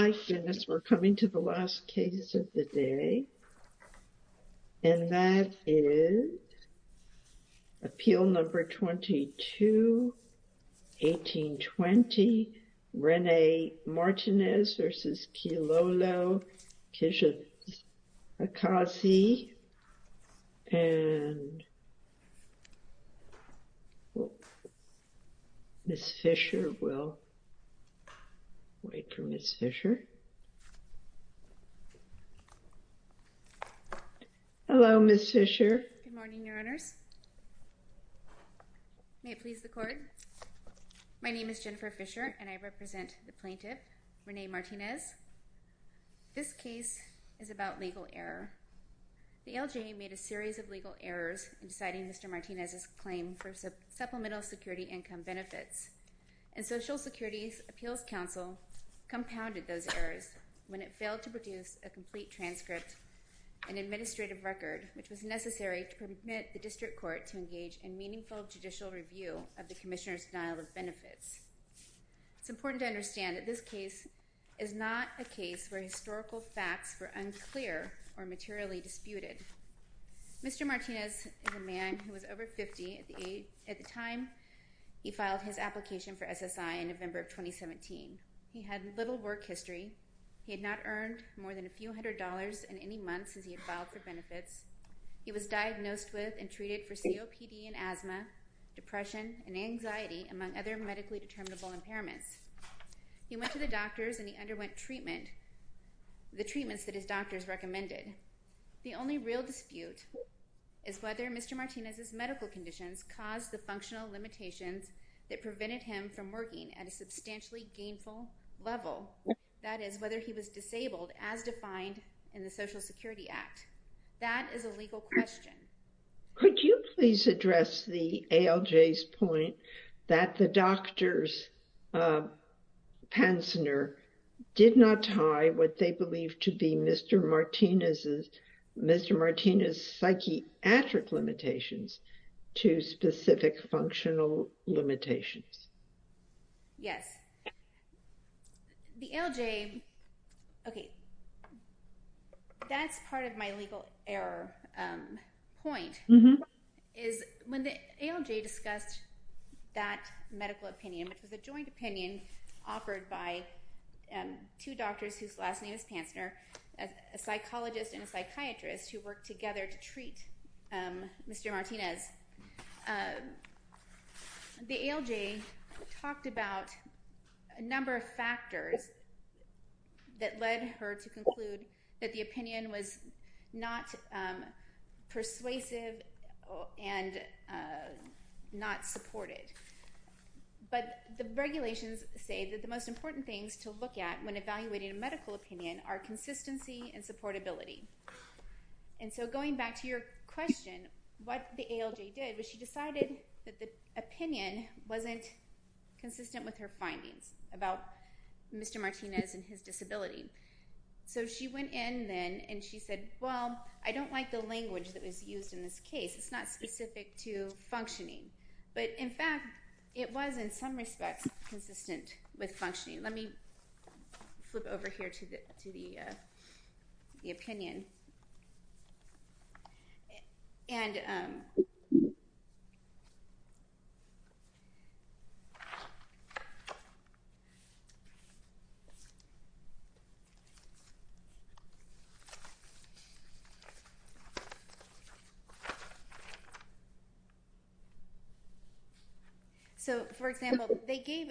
My goodness, we're coming to the last case of the day, and that is Appeal No. 22, 1820, Rene Martinez v. Kilolo Kijakazi, and Ms. Fischer will wait for Ms. Fischer. Good morning, Your Honors. May it please the Court? My name is Jennifer Fischer, and I represent the plaintiff, Rene Martinez. This case is about legal error. The LJA made a series of legal errors in deciding Mr. Martinez's claim for supplemental security income benefits, and Social Security's Appeals Council compounded those errors when it failed to produce a complete transcript and administrative record, which was necessary to permit the District Court to engage in meaningful judicial review of the Commissioner's denial of benefits. It's important to understand that this case is not a case where historical facts were unclear or materially disputed. Mr. Martinez is a man who was over 50 at the time he filed his application for SSI in November of 2017. He had little work history. He had not earned more than a few hundred dollars in any months since he had filed for benefits. He was diagnosed with and treated for COPD and asthma, depression, and anxiety, among other medically determinable impairments. He went to the doctors and he underwent treatment, the treatments that his doctors recommended. The only real dispute is whether Mr. Martinez's medical conditions caused the functional limitations that prevented him from working at a substantially gainful level, that is, whether he was disabled as defined in the Social Security Act. That is a legal question. Could you please address the ALJ's point that the doctors, uh, Pansner, did not tie what they believed to be Mr. Martinez's, Mr. Martinez's psychiatric limitations to specific functional limitations? Yes. The ALJ, okay, that's part of my legal error point, is when the ALJ discussed that medical opinion, which was a joint opinion offered by, um, two doctors whose last name is Pansner, a psychologist and a psychiatrist who worked together to treat, um, Mr. Martinez, uh, the ALJ talked about a number of factors that led her to conclude that the opinion was not, um, persuasive and, uh, not supported. But the regulations say that the most important things to look at when evaluating a medical opinion are consistency and supportability. And so going back to your question, what the ALJ did was she decided that the opinion wasn't consistent with her findings about Mr. Martinez and his disability. So she went in then and she said, well, I don't like the language that was used in this case. It's not specific to functioning. But in fact, it was in some respects consistent with functioning. Let me flip over here to the, to the, uh, the opinion. And, um, so for example, they gave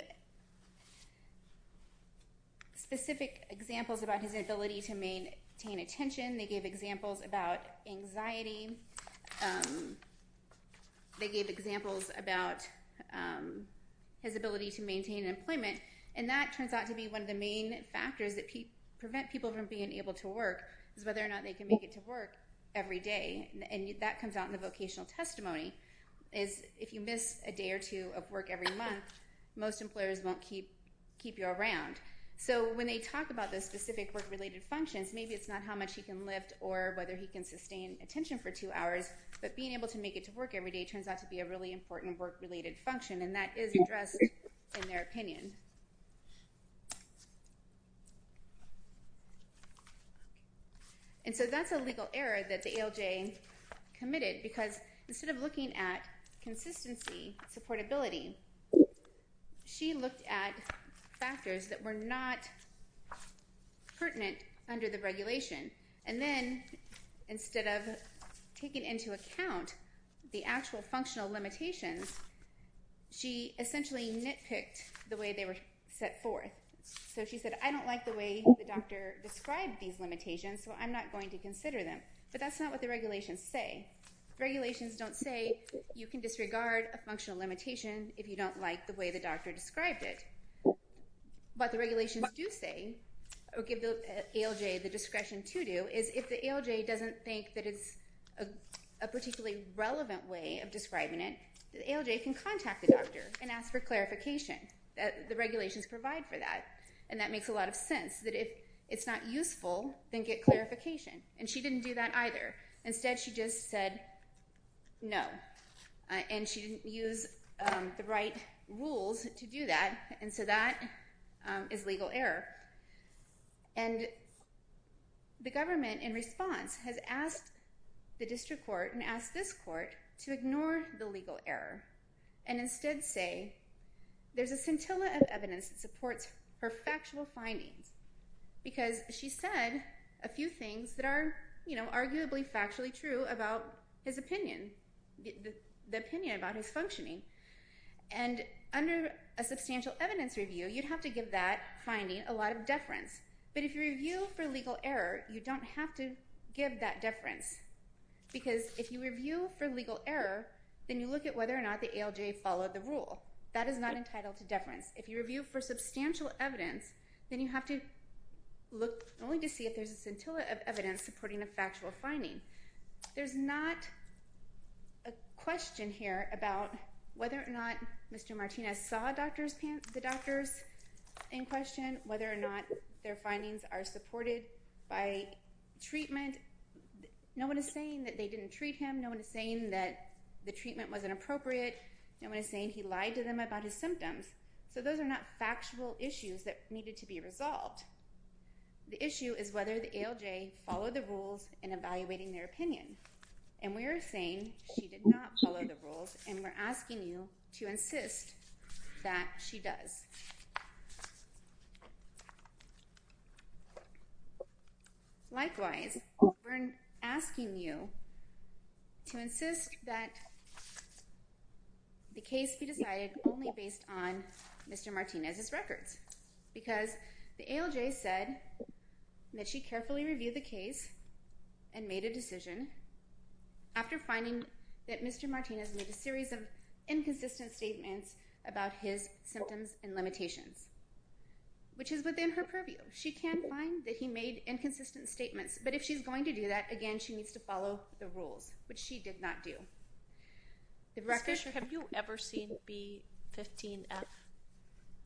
specific examples about his ability to maintain attention. They gave examples about anxiety. Um, they gave examples about, um, his ability to maintain employment. And that turns out to be one of the main factors that prevent people from being able to work is whether or not they can make it to work every day. And that comes out in the vocational testimony is if you miss a day or two of work every month, most employers won't keep you around. So when they talk about those specific work-related functions, maybe it's not how much he can lift or whether he can sustain attention for two hours, but being able to make it to work every day turns out to be a really important work-related function. And that is addressed in their opinion. And so that's a legal error that the ALJ committed because instead of looking at consistency, supportability, she looked at factors that were not pertinent under the regulation. And then instead of taking into account the actual functional limitations, she essentially nitpicked the way they were set forth. So she said, I don't like the way the doctor described these limitations, so I'm not going to consider them, but that's because the regulations don't say you can disregard a functional limitation if you don't like the way the doctor described it. What the regulations do say or give the ALJ the discretion to do is if the ALJ doesn't think that it's a particularly relevant way of describing it, the ALJ can contact the doctor and ask for clarification. The regulations provide for that. And that makes a lot of sense that if it's not useful, then get clarification. And she didn't do that either. Instead, she just said no. And she didn't use the right rules to do that. And so that is legal error. And the government, in response, has asked the district court and asked this court to ignore the legal error and instead say there's a scintilla of evidence that supports her factual findings because she said a few things that are arguably factually true about his opinion, the opinion about his functioning. And under a substantial evidence review, you'd have to give that finding a lot of deference. But if you review for legal error, you don't have to give that deference because if you review for legal error, then you look at whether or not the ALJ followed the rule. That is not entitled to deference. If you review for substantial evidence, then you have to look at whether or not the ALJ followed the rule, only to see if there's a scintilla of evidence supporting a factual finding. There's not a question here about whether or not Mr. Martinez saw the doctors in question, whether or not their findings are supported by treatment. No one is saying that they didn't treat him. No one is saying that the treatment wasn't appropriate. No one is saying he lied to them about his symptoms. So those are not factual issues that needed to be resolved. The issue is whether the ALJ followed the rules in evaluating their opinion. And we are saying she did not follow the rules and we're asking you to insist that she does. Likewise, we're asking you to insist that the case be decided only based on Mr. Martinez's records because the ALJ said that she carefully reviewed the case and made a decision after finding that Mr. Martinez made a series of inconsistent statements about his symptoms and limitations, which is within her purview. She can find that he made inconsistent statements, but if she's going to do that, again, she needs to follow the rules, which she did not do. Ms. Fisher, have you ever seen B-15-F?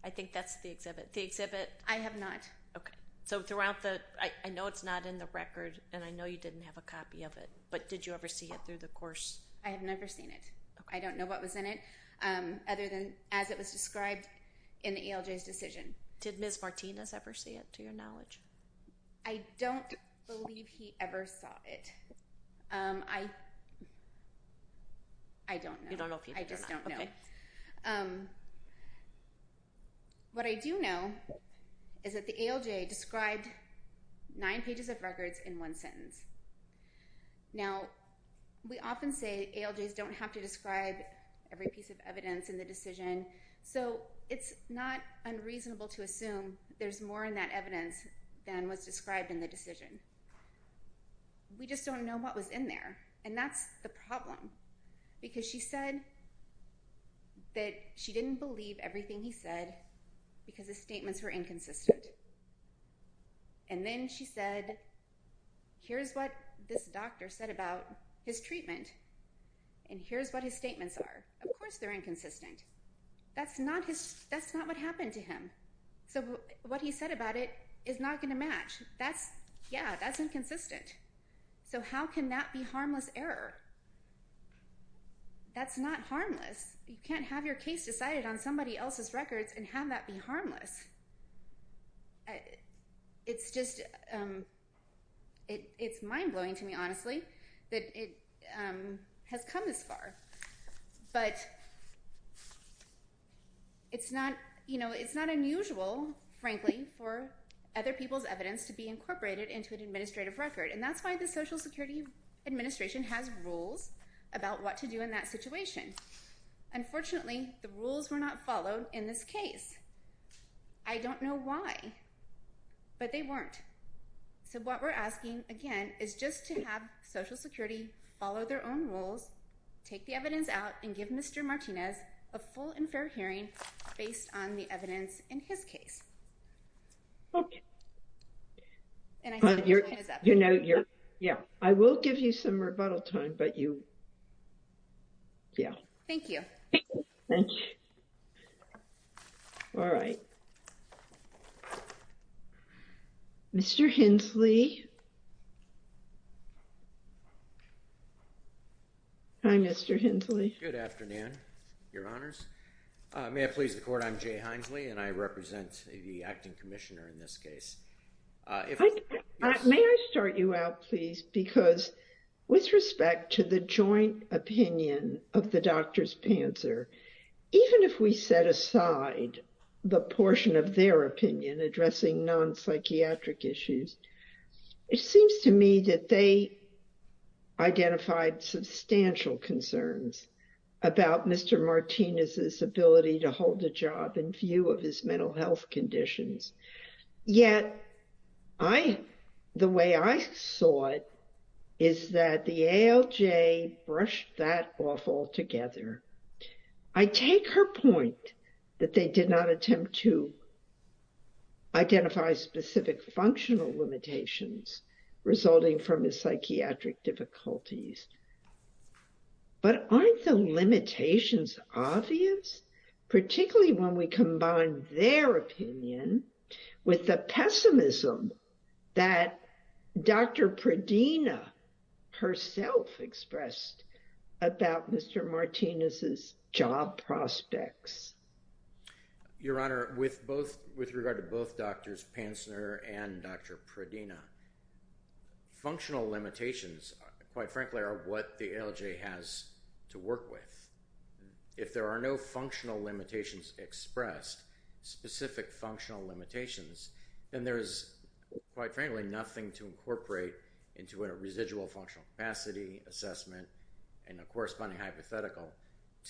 I think that's the exhibit. The exhibit? I have not. Okay. So throughout the, I know it's not in the record and I know you didn't have a copy of it, but did you ever see it through the course? I have never seen it. I don't know what was in it, other than as it was described in the ALJ's decision. Did Ms. Martinez ever see it, to your knowledge? I don't believe he ever saw it. I don't know. You don't know if he did or not? I just don't know. What I do know is that the ALJ described nine pages of records in one sentence. Now, we often say ALJs don't have to describe every piece of evidence in the decision, so it's not unreasonable to assume there's more in that evidence than was described in the decision. We just don't know what was in there and that's the problem because she said that she didn't believe everything he said because his statements were inconsistent. And then she said, here's what this doctor said about his treatment and here's what his statement was inconsistent. That's not what happened to him. So what he said about it is not going to match. Yeah, that's inconsistent. So how can that be harmless error? That's not harmless. You can't have your case decided on somebody else's records and have that be harmless. It's mind-blowing to me, honestly, that it has come this far. But it's not unusual, frankly, for other people's evidence to be incorporated into an administrative record and that's why the Social Security Administration has rules about what to do in that situation. Unfortunately, the rules were not followed in this case. I don't know why, but they weren't. So what we're asking, again, is just to have Social Security follow their own rules, take the evidence out, and give Mr. Martinez a full and fair hearing based on the evidence in his case. Okay. And I think that's all I have to say. Yeah, I will give you some rebuttal time, but you, yeah. Thank you. Thank you. All right. Mr. Hensley? Hi, Mr. Hensley. Good afternoon, Your Honors. May I please the Court? I'm Jay Hensley and I represent the Acting Commissioner in this case. May I start you out, please, because with respect to the joint opinion of the Doctors Panzer, even if we set aside the portion of their opinion addressing non-psychiatric issues, it seems to me that they identified substantial concerns about Mr. Martinez's ability to hold the job in view of his mental health conditions. Yet, the way I saw it is that the ALJ brushed that off altogether. I take her point that they did not attempt to identify specific functional limitations resulting from his psychiatric difficulties. But aren't the limitations obvious, particularly when we combine their opinion with the pessimism that Dr. Pradina herself expressed about Mr. Martinez's job prospects? Your Honor, with regard to both Doctors Panzer and Dr. Pradina, functional limitations, quite frankly, are what the ALJ has to work with. If there are no functional limitations expressed, specific functional limitations, then there is, quite frankly, nothing to incorporate into a residual functional capacity assessment and a corresponding hypothetical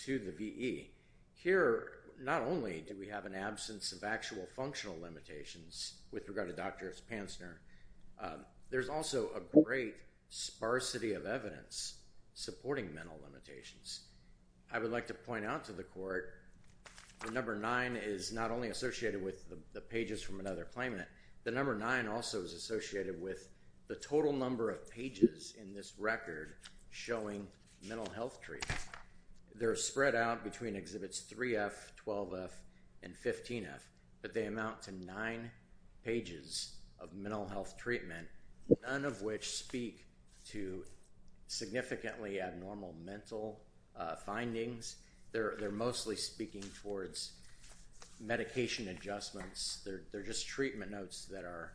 to the VE. Here, not only do we have an absence of actual functional limitations with regard to Doctors Panzer, there's also a great sparsity of evidence supporting mental limitations. I would like to point out to the Court that number nine is not only associated with the pages from another claimant. The number nine also is associated with the total number of pages in this record showing mental health treatment. They're spread out between Exhibits 3F, 12F, and 15F, but they amount to nine pages of mental health treatment, none of which speak to significantly abnormal mental findings. They're mostly speaking towards medication adjustments. They're just treatment notes that are,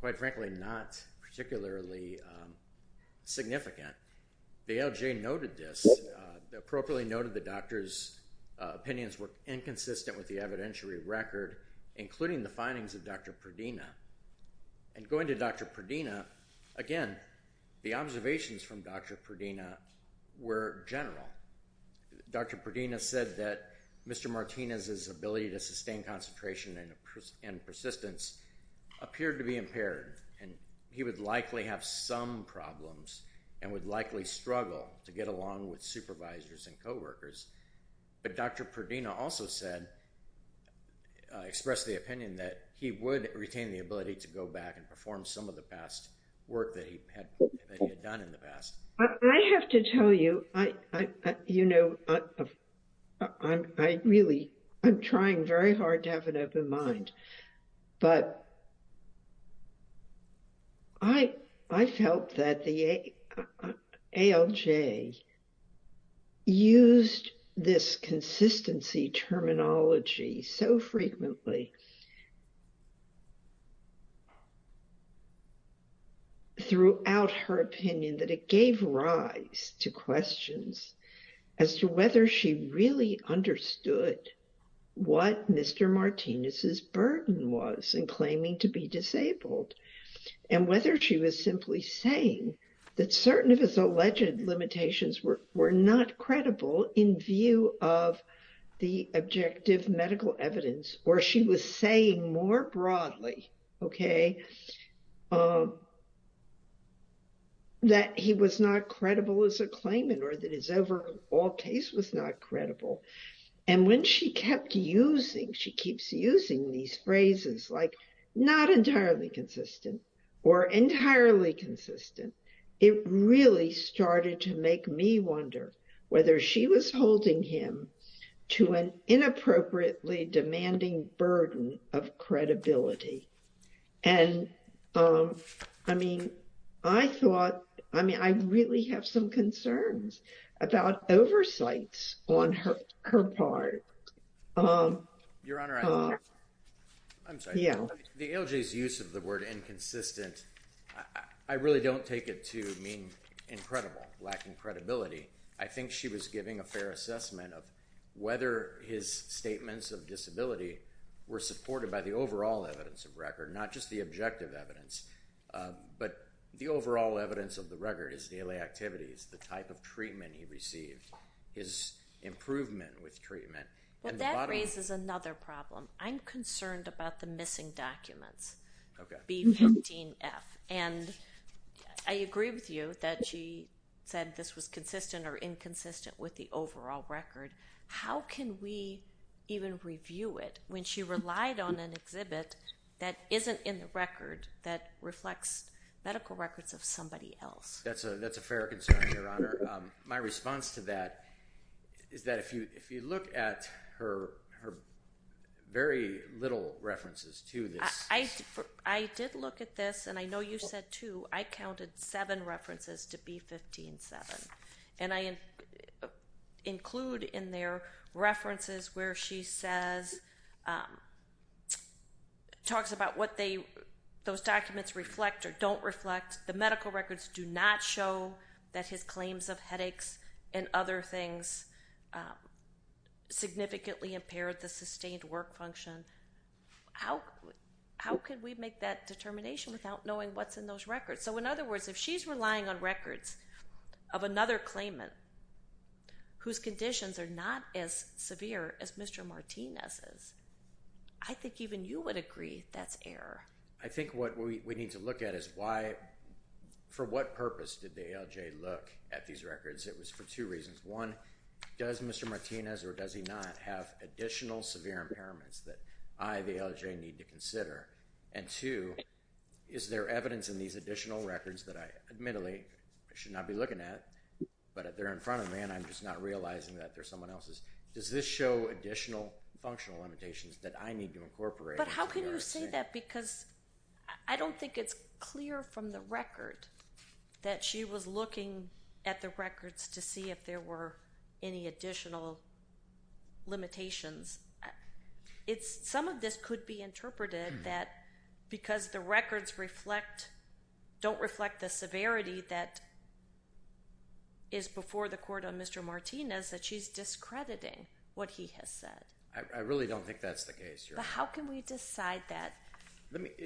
quite frankly, not particularly significant. The ALJ noted this. They appropriately noted the doctor's opinions were inconsistent with the evidentiary record, including the findings of Dr. Pradina. Going to Dr. Pradina, again, the observations from Dr. Pradina were general. Dr. Pradina said that Mr. Martinez's ability to sustain concentration and persistence appeared to be impaired. He would likely have some problems and would likely struggle to get along with supervisors and co-workers. Dr. Pradina also expressed the opinion that he would retain the ability to go back and perform some of the past work that he had done in the past. I have to tell you, I'm trying very hard to have an open mind, but I felt that the ALJ used this consistency terminology so frequently. Throughout her opinion that it gave rise to questions as to whether she really understood what Mr. Martinez's burden was in claiming to be disabled and whether she was simply saying that certain of his alleged limitations were not credible in view of the objective medical evidence or she was saying more broadly, okay, that he was not credible as a claimant or that his overall case was not credible. And when she kept using, she keeps using these phrases like not entirely consistent or entirely consistent, it really started to make me wonder whether she was holding him to an inappropriately demanding burden of credibility. And I mean, I thought, I mean, I really have some concerns about oversights on her part. Your Honor, I'm sorry. The ALJ's use of the word inconsistent, I really don't take it to mean incredible, lacking credibility. I think she was giving a fair assessment of whether his statements of disability were supported by the overall evidence of record, not just the objective evidence, but the overall evidence of the record, his daily activities, the type of treatment he received, his improvement with treatment. But that raises another problem. I'm concerned about the missing documents, B15F. And I agree with you that she said this was consistent or inconsistent with the overall record. How can we even review it when she relied on an exhibit that isn't in the record that reflects medical records of somebody else? That's a fair concern, Your Honor. My response to that is that if you look at her very little references to this. I did look at this, and I know you said too, I counted seven references to B15F. And I include in there references where she says, talks about what those documents reflect or don't reflect. The medical records do not show that his claims of headaches and other things significantly impaired the sustained work function. How could we make that determination without knowing what's in those records? So, in other words, if she's relying on records of another claimant whose conditions are not as severe as Mr. Martinez's, I think even you would agree that's error. I think what we need to look at is why, for what purpose did the ALJ look at these records? It was for two reasons. One, does Mr. Martinez or does he not have additional severe impairments that I, the ALJ, need to consider? And two, is there evidence in these additional records that I admittedly should not be looking at, but they're in front of me and I'm just not realizing that they're someone else's. Does this show additional functional limitations that I need to incorporate? But how can you say that? Because I don't think it's clear from the record that she was looking at the records to see if there were any additional limitations. Some of this could be interpreted that because the records reflect, don't reflect the severity that is before the court on Mr. Martinez, that she's discrediting what he has said. I really don't think that's the case, Your Honor. But how can we decide that,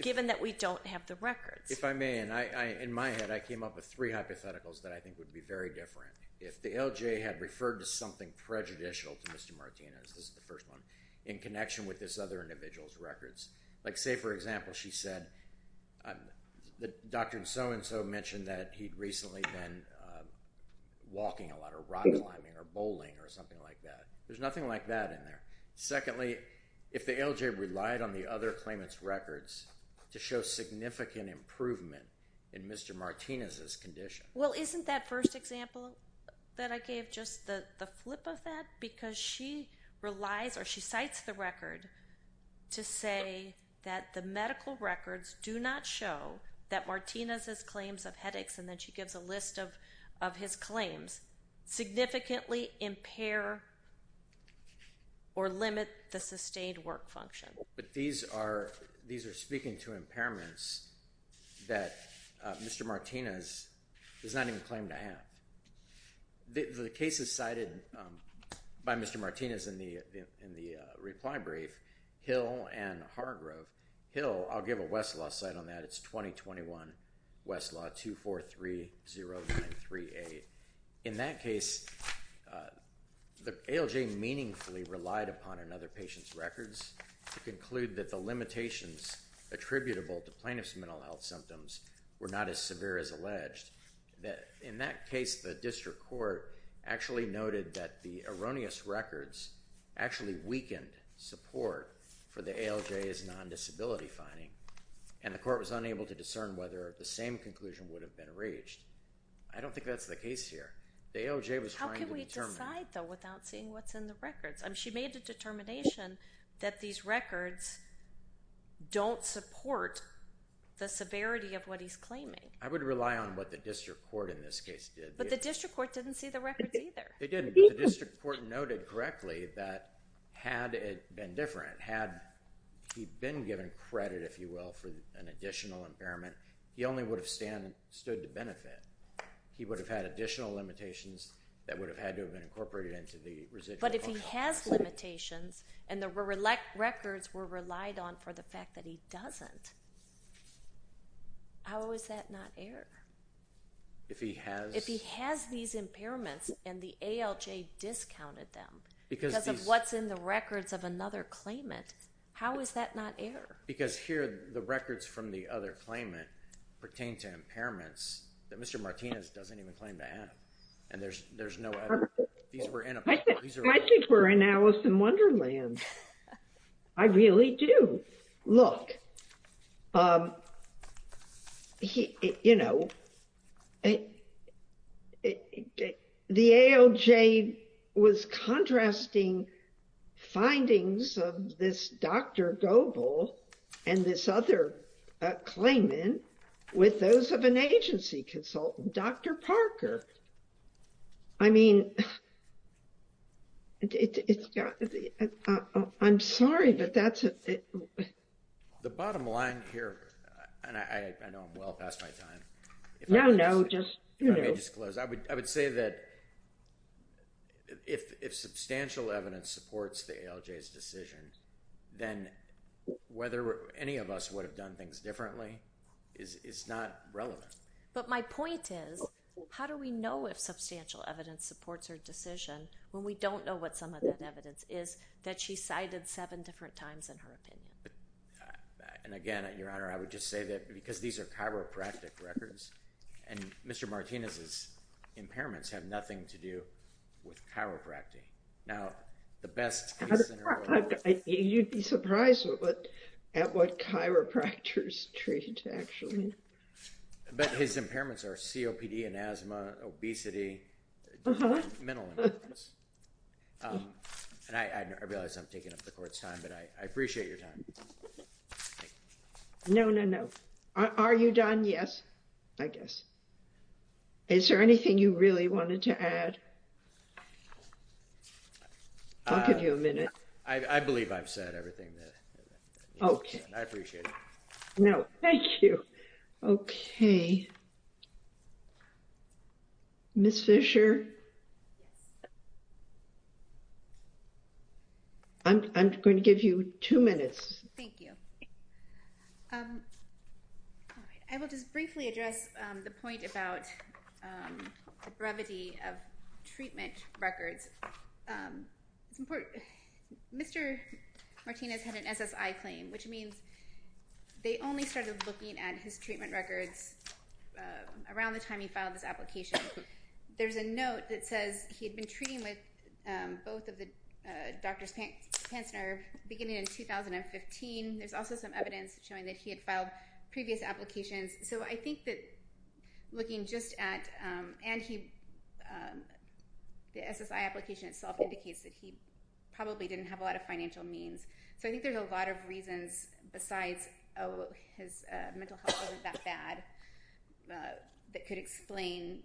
given that we don't have the records? If I may, and I, in my head, I came up with three hypotheticals that I think would be very different. If the ALJ had referred to something prejudicial to Mr. Martinez, this is the first one, in connection with this other individual's records. Like say, for example, she said that Dr. So-and-so mentioned that he'd recently been walking a lot or rock climbing or bowling or something like that. There's nothing like that in there. Secondly, if the ALJ relied on the other claimant's records to show significant improvement in Mr. Martinez's condition. Well, isn't that first example that I gave just the flip of that? Because she relies or she cites the record to say that the medical records do not show that Martinez's claims of headaches, and then she gives a list of his claims, significantly impair or limit the sustained work function. But these are speaking to impairments that Mr. Martinez does not even claim to have. The case is cited by Mr. Martinez in the reply brief, Hill and Hargrove. Hill, I'll give a Westlaw site on that. It's 2021 Westlaw 2430938. In that case, the ALJ meaningfully relied upon another patient's records to conclude that the limitations attributable to plaintiff's mental health symptoms were not as severe as alleged. In that case, the district court actually noted that the erroneous records actually weakened support for the ALJ's non-disability finding, and the court was unable to discern whether the same conclusion would have been reached. I don't think that's the case here. The ALJ was trying to determine. How can we decide though without seeing what's in the records? She made a determination that these records don't support the severity of what he's claiming. I would rely on what the district court in this case did. But the district court didn't see the records either. It didn't. The district court noted correctly that had it been different, had he been given credit if you will for an additional impairment, he only would have stood to benefit. He would have had additional limitations that would have had to have been incorporated into the residual. But if he has limitations and the records were relied on for the fact that he doesn't, how is that not error? If he has these impairments and the ALJ discounted them because of what's in the records of another claimant, how is that not error? Because here the records from the other claimant pertain to impairments that Mr. Martinez doesn't even claim to have. And there's no error. I think we're in Alice in Wonderland. I really do. Look, the ALJ was contrasting findings of this Dr. Goble and this other claimant with those of an agency consultant, Dr. Parker. I mean, I'm sorry, but that's it. The bottom line here, and I know I'm well past my time. No, no, just, you know. Let me just close. I would say that if substantial evidence supports the ALJ's decision, then whether any of us would have done things differently is not relevant. But my point is, how do we know if substantial evidence supports her decision when we don't know what some of that evidence is that she cited seven different times in her opinion? And again, Your Honor, I would just say that because these are chiropractic records and Mr. Martinez's impairments have nothing to do with chiropractic. Now, the best case scenario— You'd be surprised at what chiropractors treat, actually. But his impairments are COPD and asthma, obesity, mental impairments. And I realize I'm taking up the Court's time, but I appreciate your time. No, no, no. Are you done? Yes, I guess. Is there anything you really wanted to add? I'll give you a minute. I believe I've said everything. Okay. I appreciate it. No, thank you. Okay. Ms. Fisher? I'm going to give you two minutes. Thank you. I will just briefly address the point about the brevity of treatment records. It's important. Mr. Martinez had an SSI claim, which means they only started looking at his treatment records around the time he filed this application. There's a note that says he had been treating with both of the doctors, Pantzner, beginning in 2015. There's also some evidence showing that he had filed previous applications. So I think that looking just at—and the SSI application itself indicates that he probably didn't have a lot of financial means. So I think there's a lot of reasons besides, oh, his mental health wasn't that bad that could explain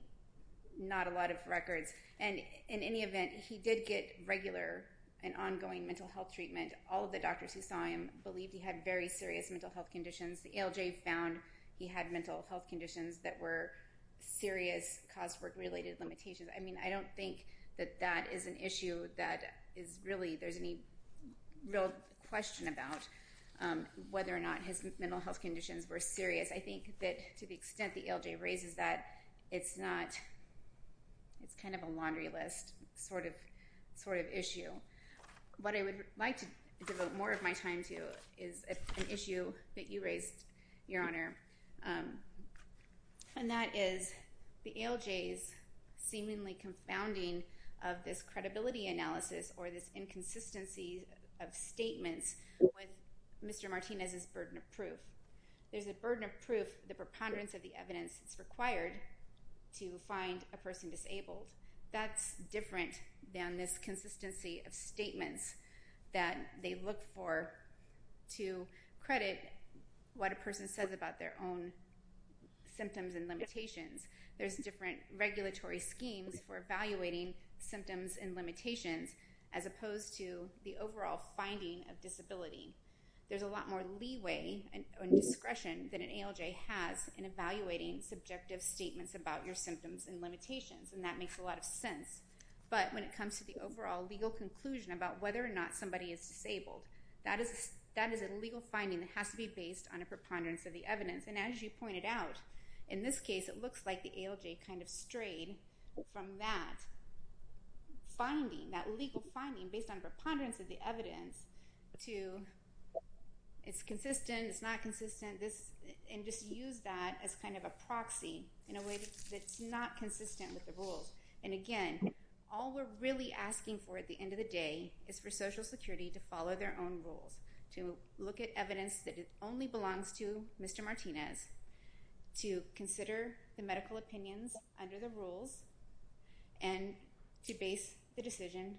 not a lot of records. And in any event, he did get regular and ongoing mental health treatment. All of the doctors who saw him believed he had very serious mental health conditions. The ALJ found he had mental health conditions that were serious, caused work-related limitations. I mean, I don't think that that is an issue that is really—there's any real question about whether or not his mental health conditions were serious. I think that to the extent the ALJ raises that, it's not—it's kind of a laundry list sort of issue. What I would like to devote more of my time to is an issue that you raised, Your Honor, and that is the ALJ's seemingly confounding of this credibility analysis or this inconsistency of statements with Mr. Martinez's burden of proof. There's a burden of proof, the preponderance of the evidence that's required to find a person disabled. That's different than this consistency of statements that they look for to credit what a person says about their own symptoms and limitations. There's different regulatory schemes for evaluating symptoms and limitations as opposed to the overall finding of disability. There's a lot more leeway and discretion than an ALJ has in evaluating subjective statements about your symptoms and limitations, and that makes a lot of sense. But when it comes to the overall legal conclusion about whether or not somebody is disabled, that is a legal finding that has to be based on a preponderance of the evidence. And as you pointed out, in this case, it looks like the ALJ kind of strayed from that finding, that legal finding based on a preponderance of the evidence, to it's consistent, it's not consistent, and just used that as kind of a proxy in a way that's not consistent with the rules. And again, all we're really asking for at the end of the day is for Social Security to follow their own rules, to look at evidence that it only belongs to Mr. Martinez, to consider the medical opinions under the rules, and to base the decision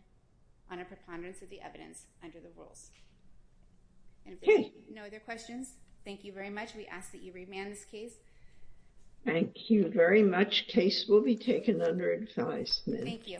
on a preponderance of the evidence under the rules. And if there are no other questions, thank you very much. We ask that you remand this case. Thank you very much. Case will be taken under advisement. Thank you.